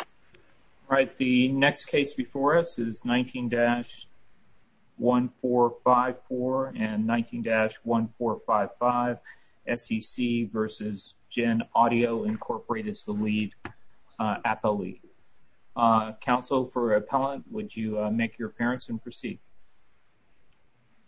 All right, the next case before us is 19-1454 and 19-1455, SEC v. GenAudio Inc. is the lead appellee. Counsel for appellant, would you make your appearance and proceed?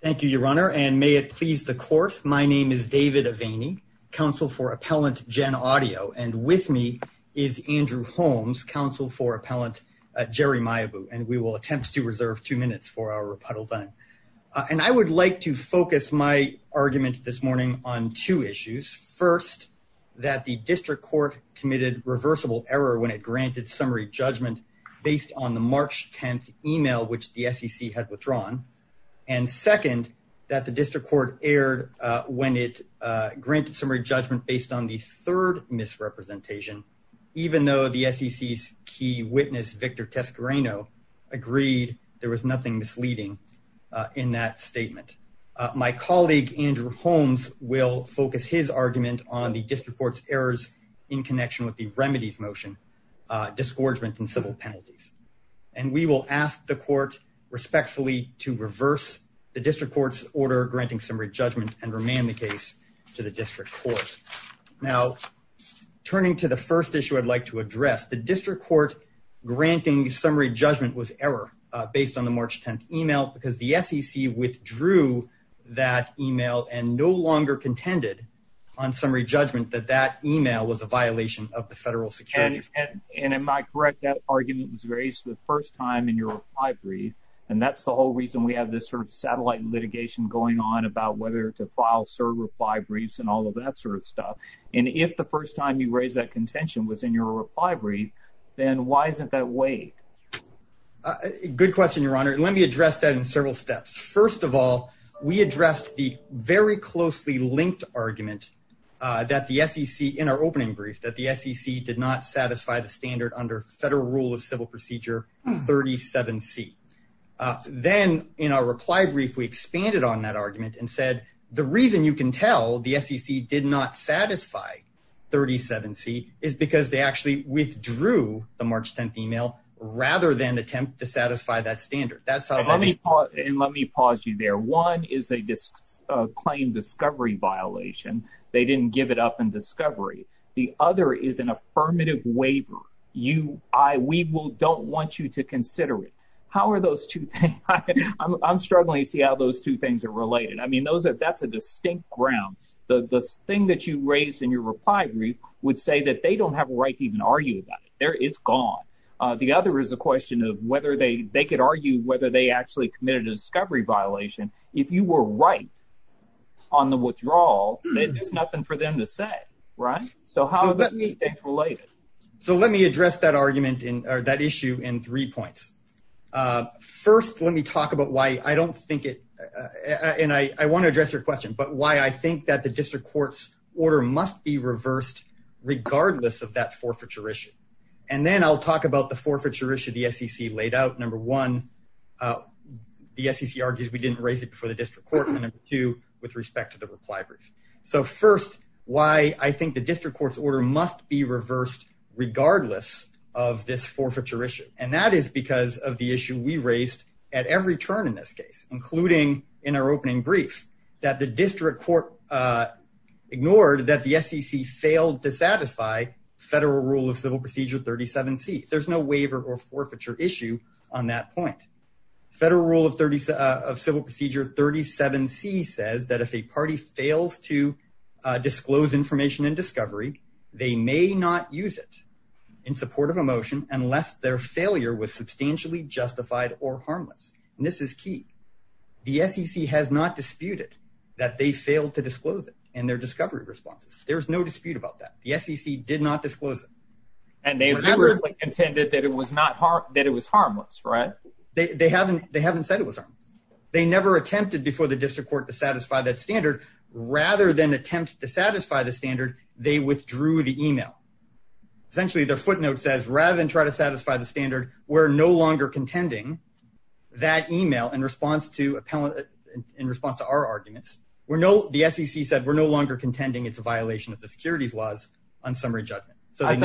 Thank you, Your Honor, and may it please the Court, my name is David Aveni, counsel for appellant GenAudio, and with me is Andrew Holmes, counsel for appellant Jerry Maibu, and we will attempt to reserve two minutes for our rebuttal time. And I would like to focus my argument this morning on two issues. First, that the district court committed reversible error when it granted summary judgment based on the March 10th email which the on the third misrepresentation, even though the SEC's key witness, Victor Toscarino, agreed there was nothing misleading in that statement. My colleague, Andrew Holmes, will focus his argument on the district court's errors in connection with the remedies motion, disgorgement, and civil penalties. And we will ask the court respectfully to reverse the district court's order granting summary judgment and remand the case to the district court. Now, turning to the first issue I'd like to address, the district court granting summary judgment was error based on the March 10th email because the SEC withdrew that email and no longer contended on summary judgment that that email was a violation of the federal securities. And am I correct that argument was raised the first time in your reply brief, and that's the reason we have this sort of satellite litigation going on about whether to file certify briefs and all of that sort of stuff. And if the first time you raised that contention was in your reply brief, then why isn't that way? Good question, your honor. Let me address that in several steps. First of all, we addressed the very closely linked argument that the SEC in our opening brief that SEC did not satisfy the standard under federal rule of civil procedure 37C. Then in our reply brief, we expanded on that argument and said the reason you can tell the SEC did not satisfy 37C is because they actually withdrew the March 10th email rather than attempt to satisfy that standard. That's how that is. And let me pause you there. One is a claim discovery violation. They didn't give it up in discovery. The other is an affirmative waiver. We will don't want you to consider it. How are those two things? I'm struggling to see how those two things are related. I mean, that's a distinct ground. The thing that you raised in your reply brief would say that they don't have a right to even argue about it. It's gone. The other is a question of whether they could argue whether they actually committed a discovery violation. If you were right on the withdrawal, there's nothing for them to say, right? So how are those two things related? So let me address that argument or that issue in three points. First, let me talk about why I don't think it, and I want to address your question, but why I think that the district court's order must be reversed regardless of that forfeiture issue. And then I'll talk about the forfeiture issue the SEC laid out. Number one, the SEC argues we didn't raise it before the district court, and number two, with respect to the reply brief. So first, why I think the district court's order must be reversed regardless of this forfeiture issue. And that is because of the issue we raised at every turn in this case, including in our opening brief, that the district court ignored that the SEC failed to satisfy federal rule of civil procedure 37C. There's no waiver or forfeiture issue on that point. Federal rule of civil procedure 37C says that if a party fails to disclose information and discovery, they may not use it in support of a motion unless their failure was substantially justified or harmless. And this is key. The SEC has not disputed that they failed to disclose it in their discovery responses. There's no dispute about that. The SEC did not disclose it. And they literally contended that it was harmless, right? They haven't said it was harmless. They never attempted before the district court to satisfy that standard. Rather than attempt to satisfy the standard, they withdrew the email. Essentially, their footnote says, rather than try to satisfy the standard, we're no longer contending that email in response to our arguments. The SEC said we're no longer contending it's a violation of the securities laws on summary judgment. So I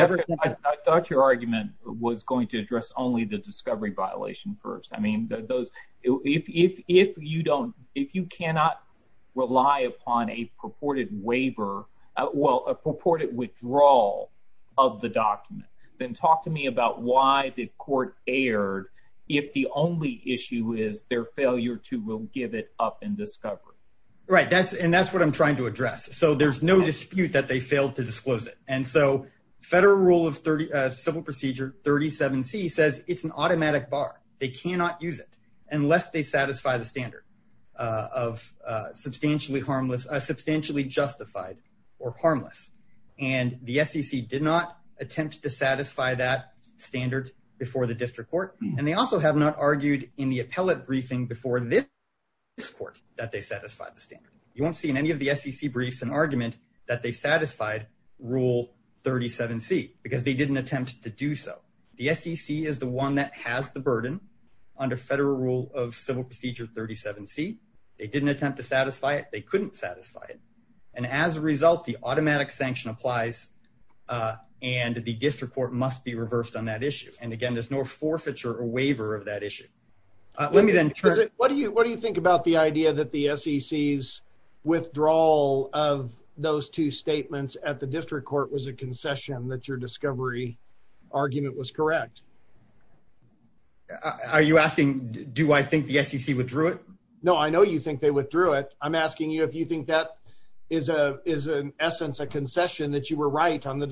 thought your argument was going to address only the discovery violation first. I mean, those, if you don't, if you cannot rely upon a purported waiver, well, a purported withdrawal of the document, then talk to me about why the court erred if the only issue is their failure to will give it up in discovery. Right, that's and that's what I'm trying to address. So there's no dispute that they failed to disclose it. And so federal rule of 30 civil procedure 37 c says it's an automatic bar, they cannot use it unless they satisfy the standard of substantially harmless, substantially justified, or harmless. And the SEC did not attempt to satisfy that standard before the district court. And they also have not argued in the appellate briefing before this court that they satisfy the standard, you won't see in any of the SEC briefs and argument that they satisfied rule 37. See, because they didn't attempt to do so. The SEC is the one that has the burden under federal rule of civil procedure 37. See, they didn't attempt to satisfy it, they couldn't satisfy it. And as a result, the automatic sanction applies. And the district court must be reversed on that issue. And again, there's no forfeiture or waiver of that issue. Let me then what do you what do you think about the idea that the SEC is withdrawal of those two statements at the district court was a concession that your discovery argument was correct? Are you asking? Do I think the SEC withdrew it? No, I know you think they withdrew it. I'm asking you if you think that is a is an essence a concession that you were right on the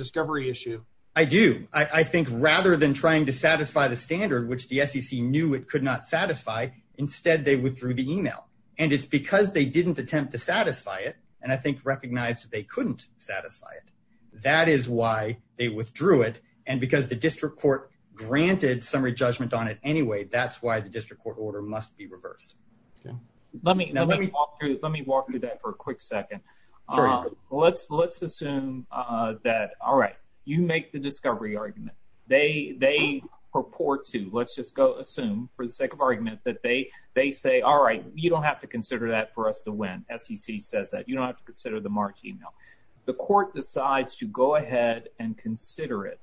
SEC knew it could not satisfy. Instead, they withdrew the email. And it's because they didn't attempt to satisfy it. And I think recognized they couldn't satisfy it. That is why they withdrew it. And because the district court granted summary judgment on it. Anyway, that's why the district court order must be reversed. Let me let me let me walk through that for a quick second. Let's let's assume that all right, you make the discovery argument, they they purport to let's just go assume for the sake of argument that they they say, all right, you don't have to consider that for us to win SEC says that you don't have to consider the March email, the court decides to go ahead and consider it.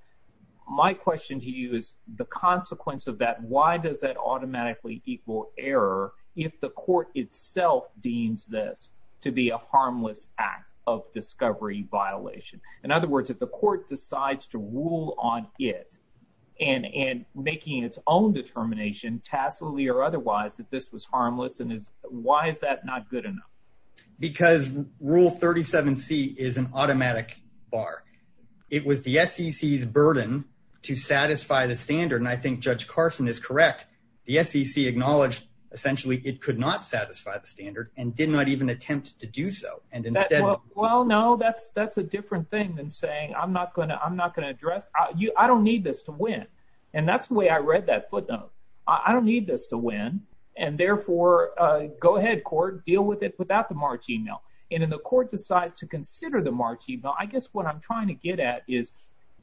My question to you is the consequence of that. Why does that automatically equal error if the court itself deems this to be a harmless act of discovery violation? In other words, if the court decides to rule on it, and and making its own determination tacitly or otherwise that this was harmless, and why is that not good enough? Because rule 37 c is an automatic bar. It was the SEC burden to satisfy the standard. And I think Judge Carson is correct. The SEC acknowledged, essentially, it could not satisfy the standard and did not even attempt to do so. And instead, well, no, that's that's a different thing than saying I'm not going to I'm not going to address you. I don't need this to win. And that's the way I read that footnote. I don't need this to win. And therefore, go ahead court deal with it without the March email. And in the court decides to consider the March email, I guess what I'm trying to get at is,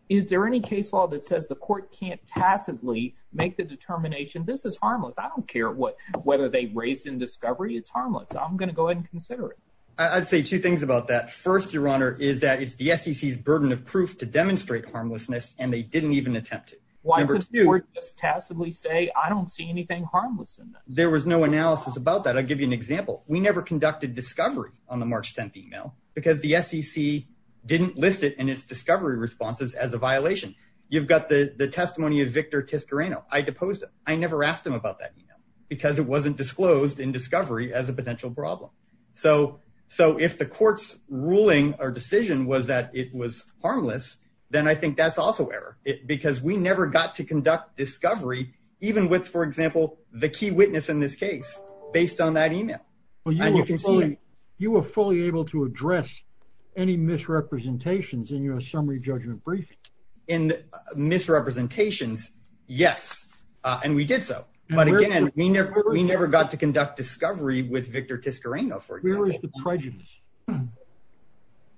is there any case law that says the court can't tacitly make the determination this is harmless, I don't care what, whether they raised in discovery, it's harmless, I'm going to go ahead and consider it. I'd say two things about that. First, Your Honor, is that it's the SEC's burden of proof to demonstrate harmlessness, and they didn't even attempt it. Why would you just tacitly say, I don't see anything harmless in there was no analysis about that. I'll give you an example. We never conducted discovery on the March 10 email, because the SEC didn't list it and its discovery responses as a violation. You've got the the testimony of Victor Tiscarano. I never asked him about that email, because it wasn't disclosed in discovery as a potential problem. So, so if the court's ruling or decision was that it was harmless, then I think that's also error because we never got to conduct discovery, even with, for example, the key witness in this case, based on that email. Well, you can see, you were fully able to address any misrepresentations in a summary judgment briefing. In misrepresentations, yes, and we did so. But again, we never, we never got to conduct discovery with Victor Tiscarano, for example. Where is the prejudice?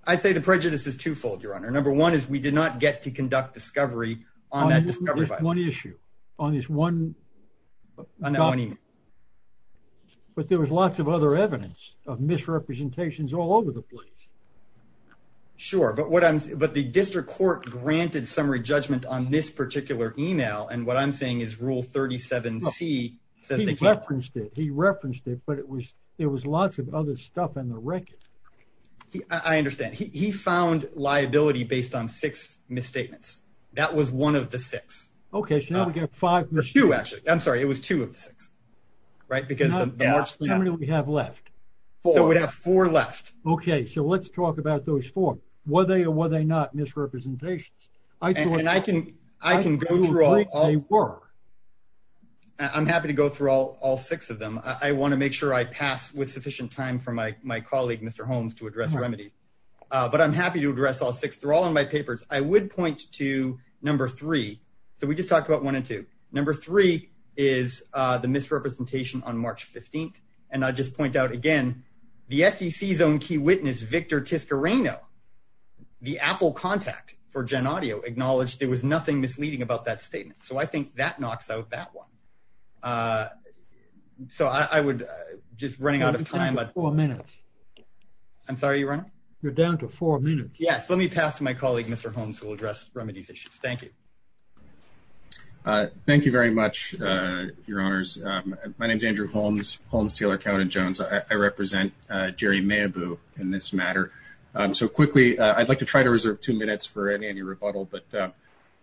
I'd say the prejudice is twofold, Your Honor. Number one is we did not get to conduct discovery on that discovery. There's one issue on this one. But there was lots of other evidence of misrepresentations all over the place. Sure, but what I'm, but the district court granted summary judgment on this particular email, and what I'm saying is Rule 37C. He referenced it, he referenced it, but it was, there was lots of other stuff in the record. I understand. He found liability based on six misstatements. That was one of the six. Okay, so now we got five. Two, actually. I'm sorry, it was two of the six, right? Because the more... How many do we have left? Four. So we'd have four left. Okay, so let's talk about those four. Were they or were they not misrepresentations? And I can, I can go through all... I think they were. I'm happy to go through all six of them. I want to make sure I pass with sufficient time for my colleague, Mr. Holmes, to address remedies. But I'm happy to address all six. They're all in my papers. I would point to number three. So we just talked about one and two. Number three is the misrepresentation on March 15th. And I'll just point out again, the SEC's own key witness, Victor Tiscarreno, the Apple contact for Gen Audio, acknowledged there was nothing misleading about that statement. So I think that knocks out that one. So I would, just running out of time... You're down to four minutes. I'm sorry, are you running? You're down to four minutes. Yes, let me pass to my colleague. Thank you very much, Your Honors. My name is Andrew Holmes, Holmes, Taylor, Cowden, Jones. I represent Jerry Mayaboo in this matter. So quickly, I'd like to try to reserve two minutes for any any rebuttal. But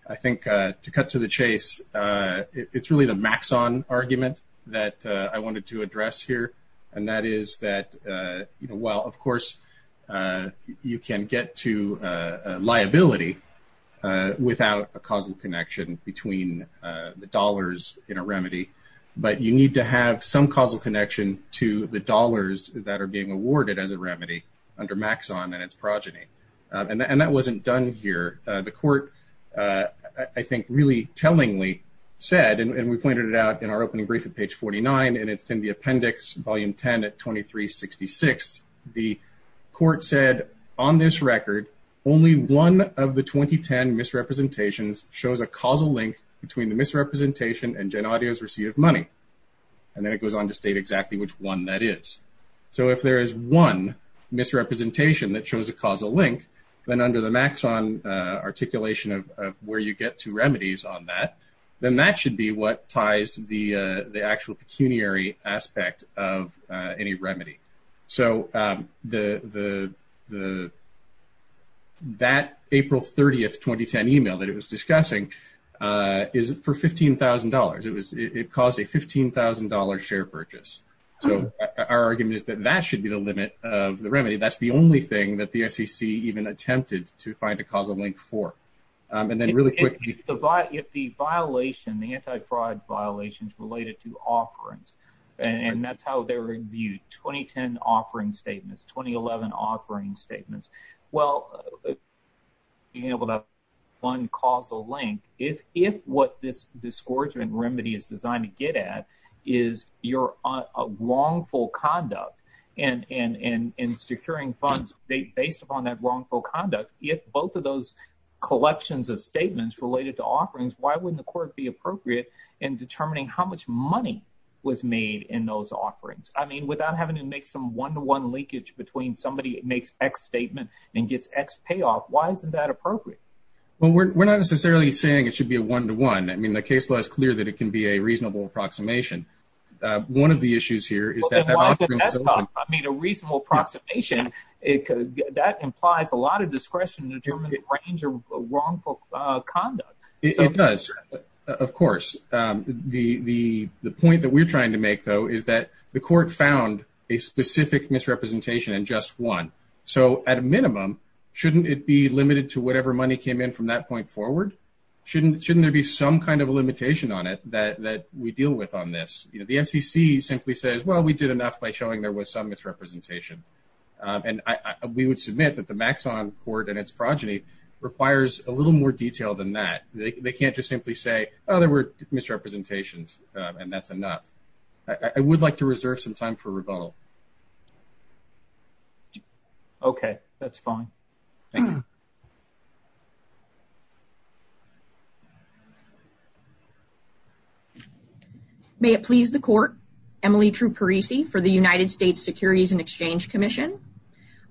I think to cut to the chase, it's really the Maxon argument that I wanted to address here. And that is that, you know, well, of course, you can get to liability without a causal connection between the dollars in a remedy. But you need to have some causal connection to the dollars that are being awarded as a remedy under Maxon and its progeny. And that wasn't done here. The court, I think, really tellingly said, and we pointed it out in our opening brief at page 49, and it's in the appendix, volume 10 at 2366. The court said, on this record, only one of the 2010 misrepresentations shows a causal link between the misrepresentation and Gen Audio's receipt of money. And then it goes on to state exactly which one that is. So if there is one misrepresentation that shows a causal link, then under the Maxon articulation of where you get to remedies on that, then that should be what ties the actual pecuniary aspect of any remedy. So that April 30th, 2010 email that it was discussing is for $15,000. It caused a $15,000 share purchase. So our argument is that that should be the limit of the remedy. That's the only thing that the SEC even attempted to find a causal link for. And then really quickly. If the violation, the anti-fraud violations related to offerings, and that's how they're reviewed, 2010 offering statements, 2011 offering statements. Well, being able to find causal link, if what this disgorgement remedy is designed to get at is your wrongful conduct in securing funds, based upon that wrongful conduct, if both of those collections of statements related to offerings, why wouldn't the court be appropriate in determining how much money was made in those offerings? I mean, without having to make some one-to-one leakage between somebody that makes X statement and gets X payoff, why isn't that appropriate? Well, we're not necessarily saying it should be a one-to-one. I mean, the case law is clear that it can be a reasonable approximation. One of the issues here is that- I mean, a reasonable approximation, that implies a lot of discretion to determine the range of wrongful conduct. It does, of course. The point that we're trying to make, though, is that the court found a specific misrepresentation in just one. So at a minimum, shouldn't it be limited to whatever money came in from that point forward? Shouldn't there be some kind of a limitation on that we deal with on this? You know, the SEC simply says, well, we did enough by showing there was some misrepresentation. And we would submit that the Maxon Court and its progeny requires a little more detail than that. They can't just simply say, oh, there were misrepresentations, and that's enough. I would like to reserve some time for rebuttal. Okay. That's fine. Thank you. May it please the court. Emily Truparisi for the United States Securities and Exchange Commission.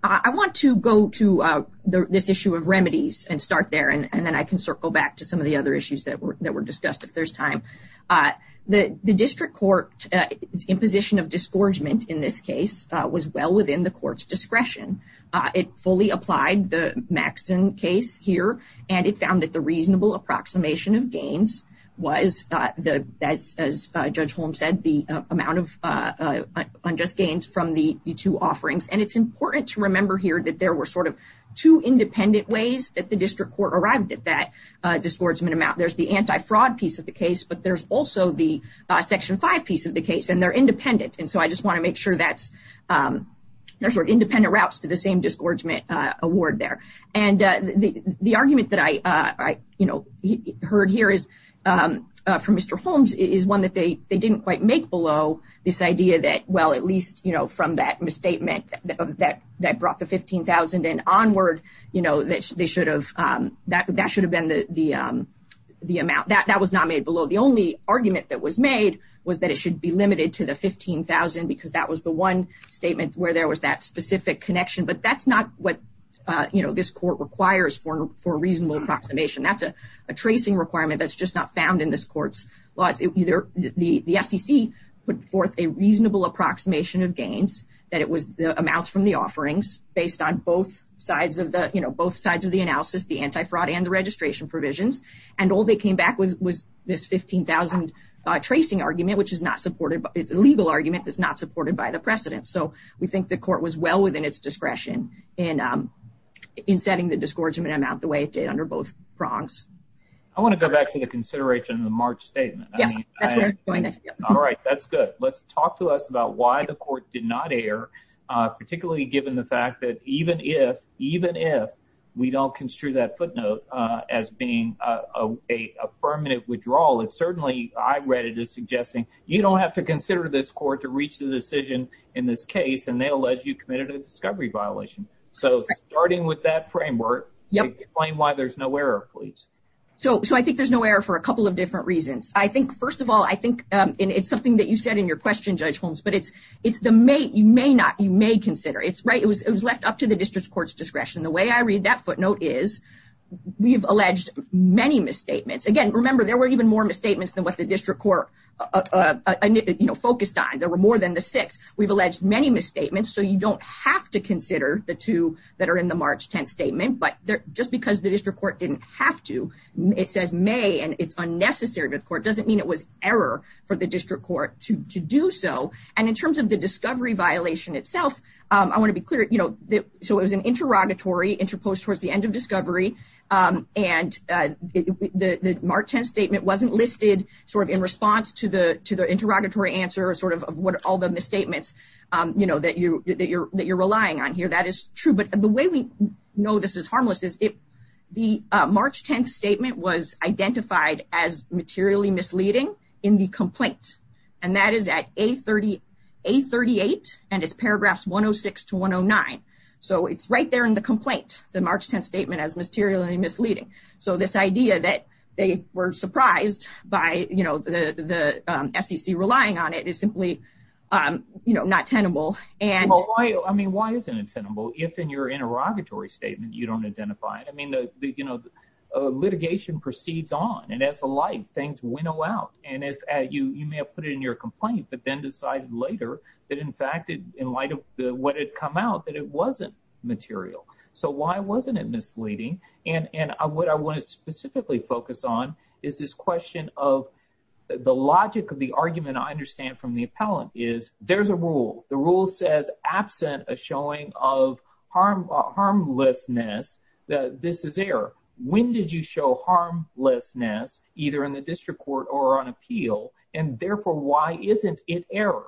I want to go to this issue of remedies and start there, and then I can circle back to some of the other issues that were discussed, if there's time. The district court's imposition of was well within the court's discretion. It fully applied the Maxon case here, and it found that the reasonable approximation of gains was, as Judge Holm said, the amount of unjust gains from the two offerings. And it's important to remember here that there were sort of two independent ways that the district court arrived at that disgorgement amount. There's the anti-fraud piece of the case, but there's also the Section 5 piece of the case, and they're independent. And so I just want to make sure there's independent routes to the same disgorgement award there. And the argument that I heard here from Mr. Holmes is one that they didn't quite make below this idea that, well, at least from that misstatement that brought the $15,000 in onward, that should have been the amount. That was not made below. The only argument that was made was that it should be limited to the $15,000 because that was the one statement where there was that specific connection. But that's not what this court requires for a reasonable approximation. That's a tracing requirement that's just not found in this court's laws. The SEC put forth a reasonable approximation of gains, that it was the amounts from the offerings based on both sides of the analysis, the anti-fraud and the registration provisions. And all they came back with was this $15,000 tracing argument, which is not supported, it's a legal argument that's not supported by the precedents. So we think the court was well within its discretion in setting the disgorgement amount the way it did under both prongs. I want to go back to the consideration of the March statement. Yes, that's where we're going next. All right, that's good. Let's talk to us about why the court did not err, particularly given the fact that even if we don't construe that footnote as being a permanent withdrawal, it certainly, I read it as suggesting, you don't have to consider this court to reach the decision in this case, and they'll let you commit a discovery violation. So starting with that framework, explain why there's no error, please. So I think there's no error for a couple of different reasons. I think, first of all, I think, and it's something that you said in your question, Judge Holmes, but it's you may not, you may consider. It's right, it was left up to the district court's discretion. The way I read that footnote is we've alleged many misstatements. Again, remember, there were even more misstatements than what the district court focused on. There were more than the six. We've alleged many misstatements, so you don't have to consider the two that are in the March 10th statement, but just because the district court didn't have to, it says may, and it's unnecessary to the court, doesn't mean it was error for the district court to do so. And in terms of the discovery violation itself, I want to be clear, you know, so it was an interrogatory, interposed towards the end of discovery, and the March 10th statement wasn't listed sort of in response to the interrogatory answer or sort of what all the misstatements, you know, that you're relying on here. That is true, but the way we know this is harmless is the March 10th statement was identified as materially misleading in the complaint, and that is at A38, and it's paragraphs 106 to 109. So it's right there in the complaint, the March 10th statement as materially misleading. So this idea that they were surprised by, you know, the SEC relying on it is simply, you know, not tenable. And why, I mean, why isn't it tenable if in your interrogatory statement you don't identify it? I put it in your complaint, but then decided later that in fact, in light of what had come out, that it wasn't material. So why wasn't it misleading? And what I want to specifically focus on is this question of the logic of the argument I understand from the appellant is, there's a rule, the rule says absent a showing of harmlessness, this is error. When did you show harmlessness either in the district court or on appeal? And therefore, why isn't it error?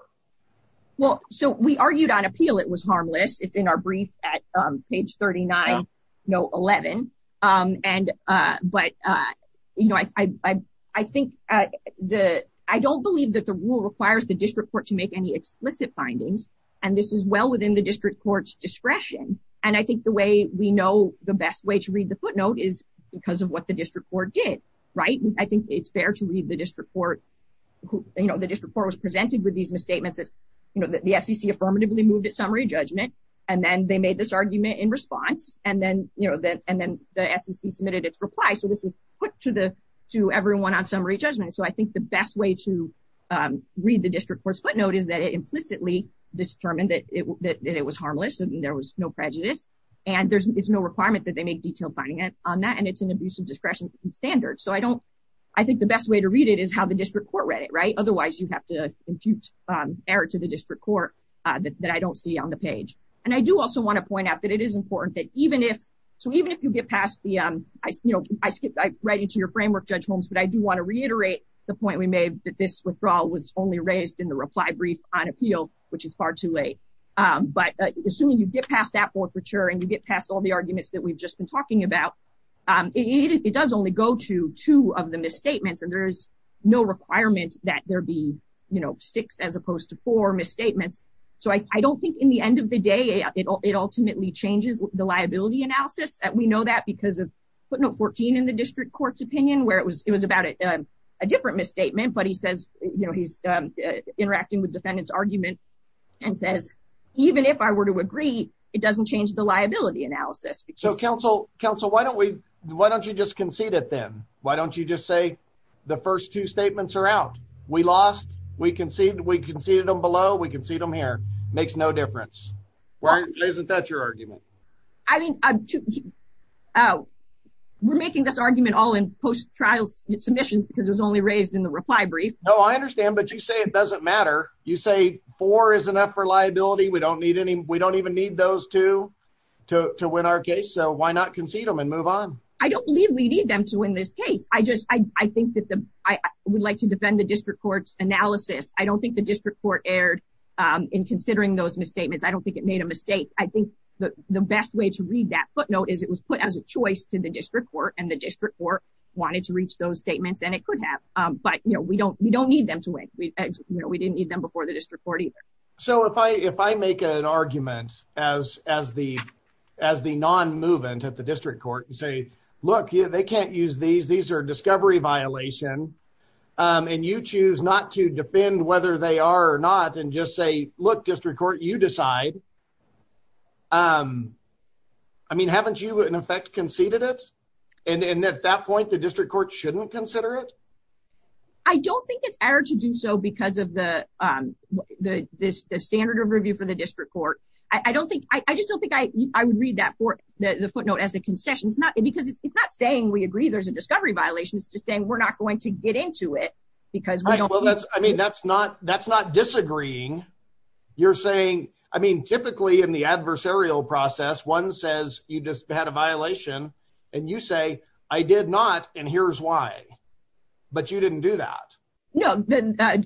Well, so we argued on appeal, it was harmless. It's in our brief at page 39, no 11. And, but, you know, I think the, I don't believe that the rule requires the district court to make any explicit findings. And this is well within the district court's discretion. And I think the way we know the best way to read the footnote is because of what the district court did, right? I think it's fair to read the district court who, you know, the district court was presented with these misstatements. It's, you know, the SEC affirmatively moved its summary judgment, and then they made this argument in response. And then, you know, and then the SEC submitted its reply. So this was put to the, to everyone on summary judgment. So I think the best way to read the district court's footnote is that it implicitly determined that it was harmless and there was no prejudice. And there's no requirement that they make detailed finding on that. And it's an abusive discretion standard. So I don't, I think the best way to read it is how the district court read it, right? Otherwise you have to impute error to the district court that I don't see on the page. And I do also want to point out that it is important that even if, so even if you get past the, you know, I skipped right into your framework, Judge Holmes, but I do want to reiterate the point we made that this withdrawal was only raised in the But assuming you get past that forfeiture and you get past all the arguments that we've just been talking about, it does only go to two of the misstatements. And there is no requirement that there be, you know, six as opposed to four misstatements. So I don't think in the end of the day, it ultimately changes the liability analysis. And we know that because of footnote 14 in the district court's opinion, where it was, it was about a different misstatement, but he says, you know, he's interacting with defendant's argument and says, even if I were to agree, it doesn't change the liability analysis. So counsel, counsel, why don't we, why don't you just concede it then? Why don't you just say, the first two statements are out, we lost, we conceded, we conceded them below, we can see them here, makes no difference. Isn't that your argument? I mean, we're making this argument all in post trials submissions, because it was only raised in the reply brief. No, I understand. But you say it doesn't matter. You say four is enough for liability. We don't need any, we don't even need those two to win our case. So why not concede them and move on? I don't believe we need them to win this case. I just I think that the I would like to defend the district court's analysis. I don't think the district court erred in considering those misstatements. I don't think it made a mistake. I think that the best way to read that footnote is it was put as a choice to the district court and the district court wanted to reach those we don't we don't need them to win. We didn't need them before the district court either. So if I if I make an argument as as the as the non movement at the district court and say, look, they can't use these, these are discovery violation. And you choose not to defend whether they are or not and just say, look, district court, you decide. I mean, haven't you in effect conceded it? And at that point, the district court shouldn't consider it. I don't think it's our to do so because of the, the this standard of review for the district court. I don't think I just don't think I would read that for the footnote as a concession. It's not because it's not saying we agree there's a discovery violation. It's just saying we're not going to get into it. Because I mean, that's not that's not disagreeing. You're saying, I mean, typically, in the adversarial process, one says you just had a violation. And you say, I did not. And here's why. But you didn't do that. No,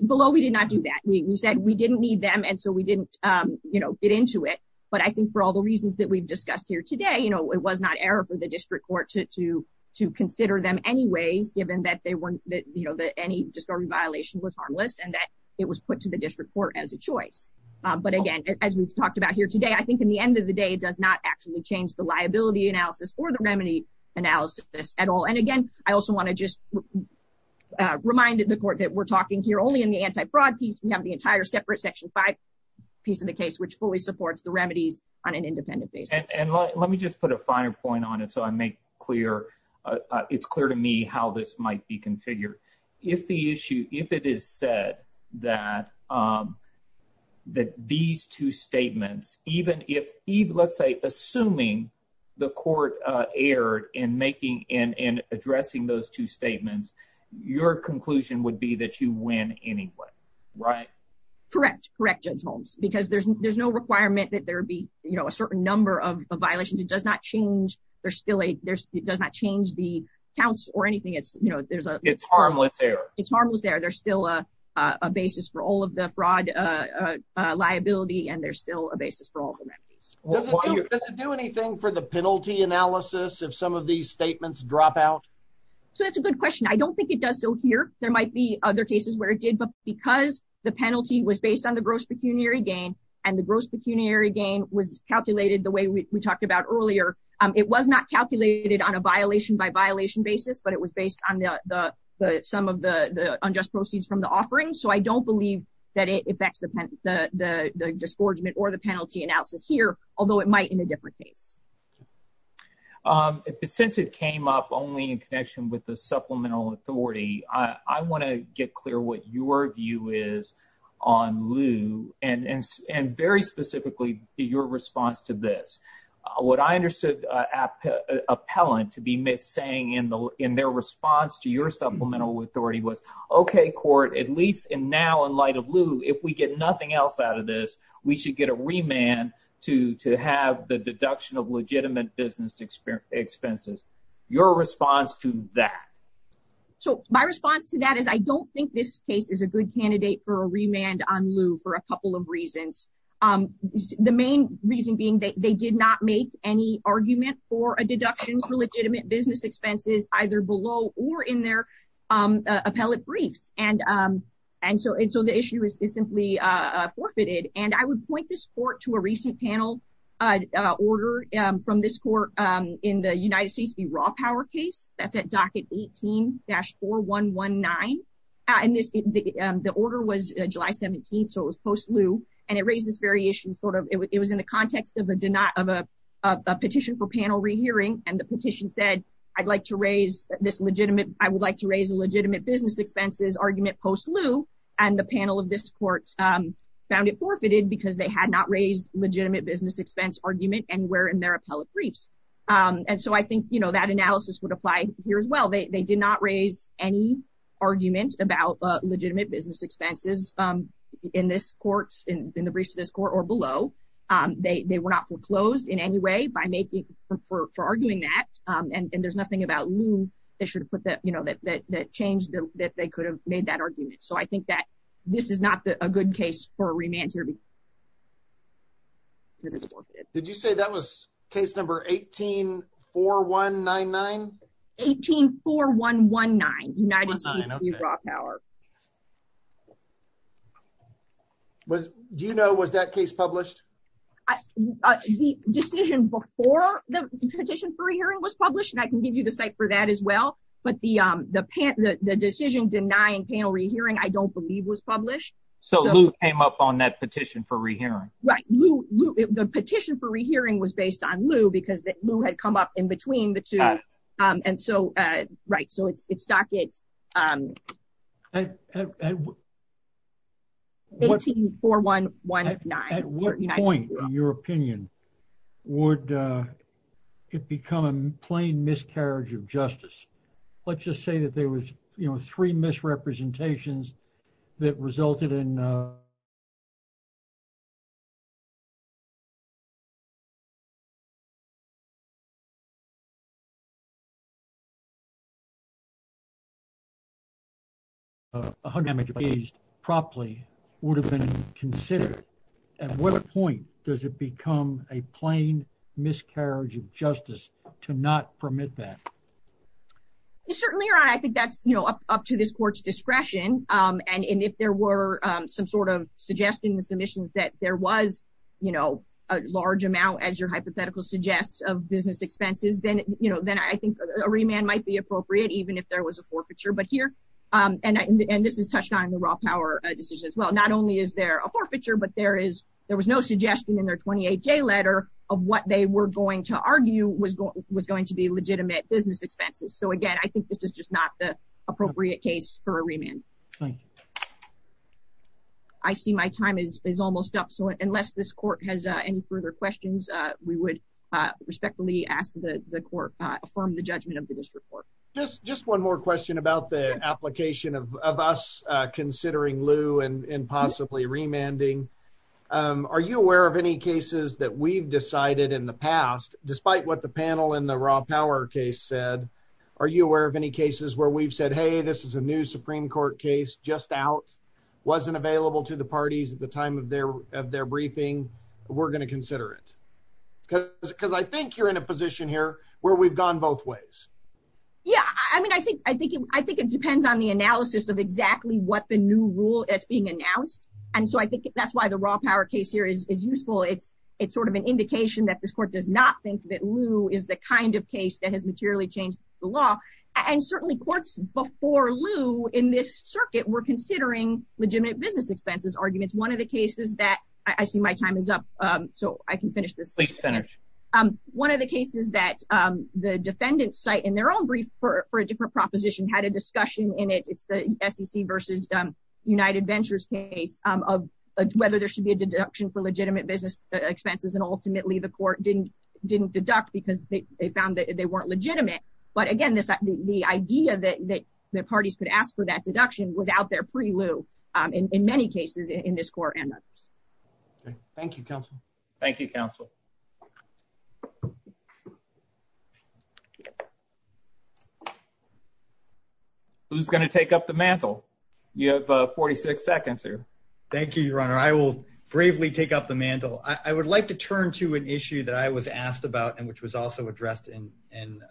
below, we did not do that. We said we didn't need them. And so we didn't, you know, get into it. But I think for all the reasons that we've discussed here today, you know, it was not error for the district court to to to consider them anyways, given that they weren't that, you know, that any discovery violation was harmless, and it was put to the district court as a choice. But again, as we've talked about here today, I think in the end of the day does not actually change the liability analysis or the remedy analysis at all. And again, I also want to just reminded the court that we're talking here only in the anti fraud piece, we have the entire separate section five piece of the case, which fully supports the remedies on an independent basis. And let me just put a finer point on it. I make clear, it's clear to me how this might be configured. If the issue if it is said that, that these two statements, even if even let's say, assuming the court erred in making in addressing those two statements, your conclusion would be that you win anyway, right? Correct. Correct, gentlemen, because there's, there's no requirement that there be, you know, a certain number of violations, it does not change, there's still a there's it does not change the counts or anything. It's, you know, there's, it's harmless error, it's harmless error, there's still a basis for all of the fraud liability. And there's still a basis for all the remedies. Does it do anything for the penalty analysis of some of these statements drop out? So that's a good question. I don't think it does. So here, there might be other cases where it did, but because the penalty was based on the gross pecuniary gain, and the gross pecuniary gain was calculated the way we talked about earlier, it was not calculated on a violation by violation basis, but it was based on the some of the unjust proceeds from the offering. So I don't believe that it affects the pen, the disgorgement or the penalty analysis here, although it might in a different case. Since it came up only in connection with the and very specifically, your response to this, what I understood appellant to be saying in the in their response to your supplemental authority was, okay, court, at least in now in light of Lou, if we get nothing else out of this, we should get a remand to to have the deduction of legitimate business expenses, your response to that. So my response to that is I don't think this case is a good candidate for a remand on Lou for a couple of reasons. The main reason being that they did not make any argument for a deduction for legitimate business expenses, either below or in their appellate briefs. And so and so the issue is simply forfeited. And I would point this court to a recent panel order from this court in the United States be raw power case that's at docket 18 dash 419. And this the order was July 17. So it was post Lou. And it raises variation sort of it was in the context of a denial of a petition for panel rehearing. And the petition said, I'd like to raise this legitimate, I would like to raise a legitimate business expenses argument post Lou, and the panel of this court found it forfeited because they had not raised legitimate business expense argument and were in their appellate briefs. And so I think you know, that analysis would apply here as well. They did not raise any argument about legitimate business expenses. In this courts in the briefs to this court or below. They were not foreclosed in any way by making for arguing that and there's nothing about Lou, they should put that you know that that changed that they could have made that argument. So I think that this is not a good case for a 18 for 119. United's raw power. Was do you know was that case published? The decision before the petition for a hearing was published and I can give you the site for that as well. But the the pan the decision denying panel rehearing I don't believe was published. So Lou came up on that petition for rehearing. Right Lou, Lou, the petition for rehearing was based on Lou because that Lou had come up in between the two. And so, right, so it's it's dockets. 18 411 at what point, in your opinion, would it become a plain miscarriage of justice? Let's just say that there was, you know, three misrepresentations that resulted in a hundred damage. A hundred damage properly would have been considered. At what point does it become a plain miscarriage of justice to not permit that? Certainly, right. I think that's, you know, up to this court's discretion. And if there were some sort of suggestion, the submissions that there was, you know, a large amount, as your hypothetical suggests, of business expenses, then, you know, then I think a remand might be appropriate, even if there was a forfeiture. But here and this is touched on in the raw power decision as well. Not only is there a forfeiture, but there is there was no suggestion in their 28 day letter of what they were going to argue was going to be legitimate business expenses. So, again, I think this is just not the appropriate case for a remand. Thank you. I see my time is almost up. So unless this court has any further questions, we would respectfully ask the court to affirm the judgment of the district court. Just one more question about the application of us considering Lew and possibly remanding. Are you aware of any cases that we've decided in the past, despite what the panel in the raw court case just out wasn't available to the parties at the time of their of their briefing, we're going to consider it. Because I think you're in a position here where we've gone both ways. Yeah, I mean, I think I think I think it depends on the analysis of exactly what the new rule that's being announced. And so I think that's why the raw power case here is useful. It's it's sort of an indication that this court does not think that Lew is the kind of case that has before Lew in this circuit, we're considering legitimate business expenses arguments. One of the cases that I see my time is up. So I can finish this. One of the cases that the defendant site in their own brief for a different proposition had a discussion in it. It's the SEC versus United Ventures case of whether there should be a deduction for legitimate business expenses. And ultimately, the court didn't didn't deduct because they found that they weren't legitimate. But again, this, the idea that the parties could ask for that deduction was out there pre Lew, in many cases in this court and others. Thank you, counsel. Thank you, counsel. Who's going to take up the mantle? You have 46 seconds here. Thank you, Your Honor, I will bravely take up the mantle, I would like to turn to an issue that I was asked about, and which was also addressed in in,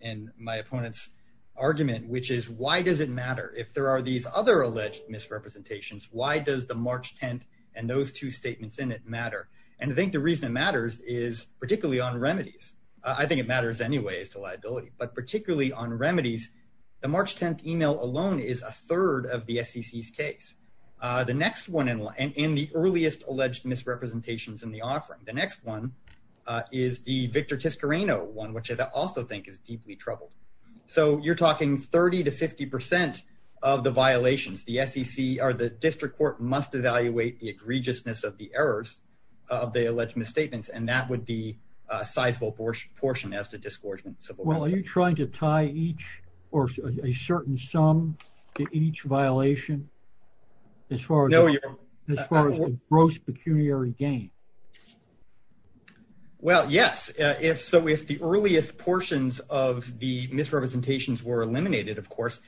in my opponent's argument, which is why does it matter if there are these other alleged misrepresentations? Why does the March 10? And those two statements in it matter. And I think the reason it matters is particularly on remedies. I think it matters anyway, as to liability, but particularly on remedies. The March 10 email alone is a third of the SEC's case. The next one in line in the earliest alleged misrepresentations in the offering. The next one is the Victor Tiscareño one, which I also think is deeply troubled. So you're talking 30 to 50% of the violations the SEC or the district court must evaluate the egregiousness of the errors of the alleged misstatements. And that would be a sizable portion portion as to disgorgement. So well, are you trying to tie each or a certain sum to each violation? As far as gross pecuniary gain? Well, yes, if so, if the earliest portions of the misrepresentations were eliminated, of course,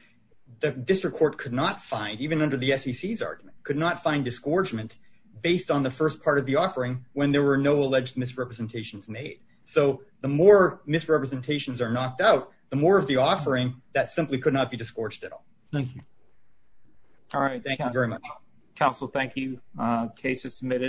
the district court could not find even under the SEC's argument could not find disgorgement based on the first part of the offering when there were no alleged misrepresentations made. So the more misrepresentations are knocked out, the more of the offering that simply could not be disgorged at all. Thank you. All right. Thank you very much. Council. Thank you. Case is submitted.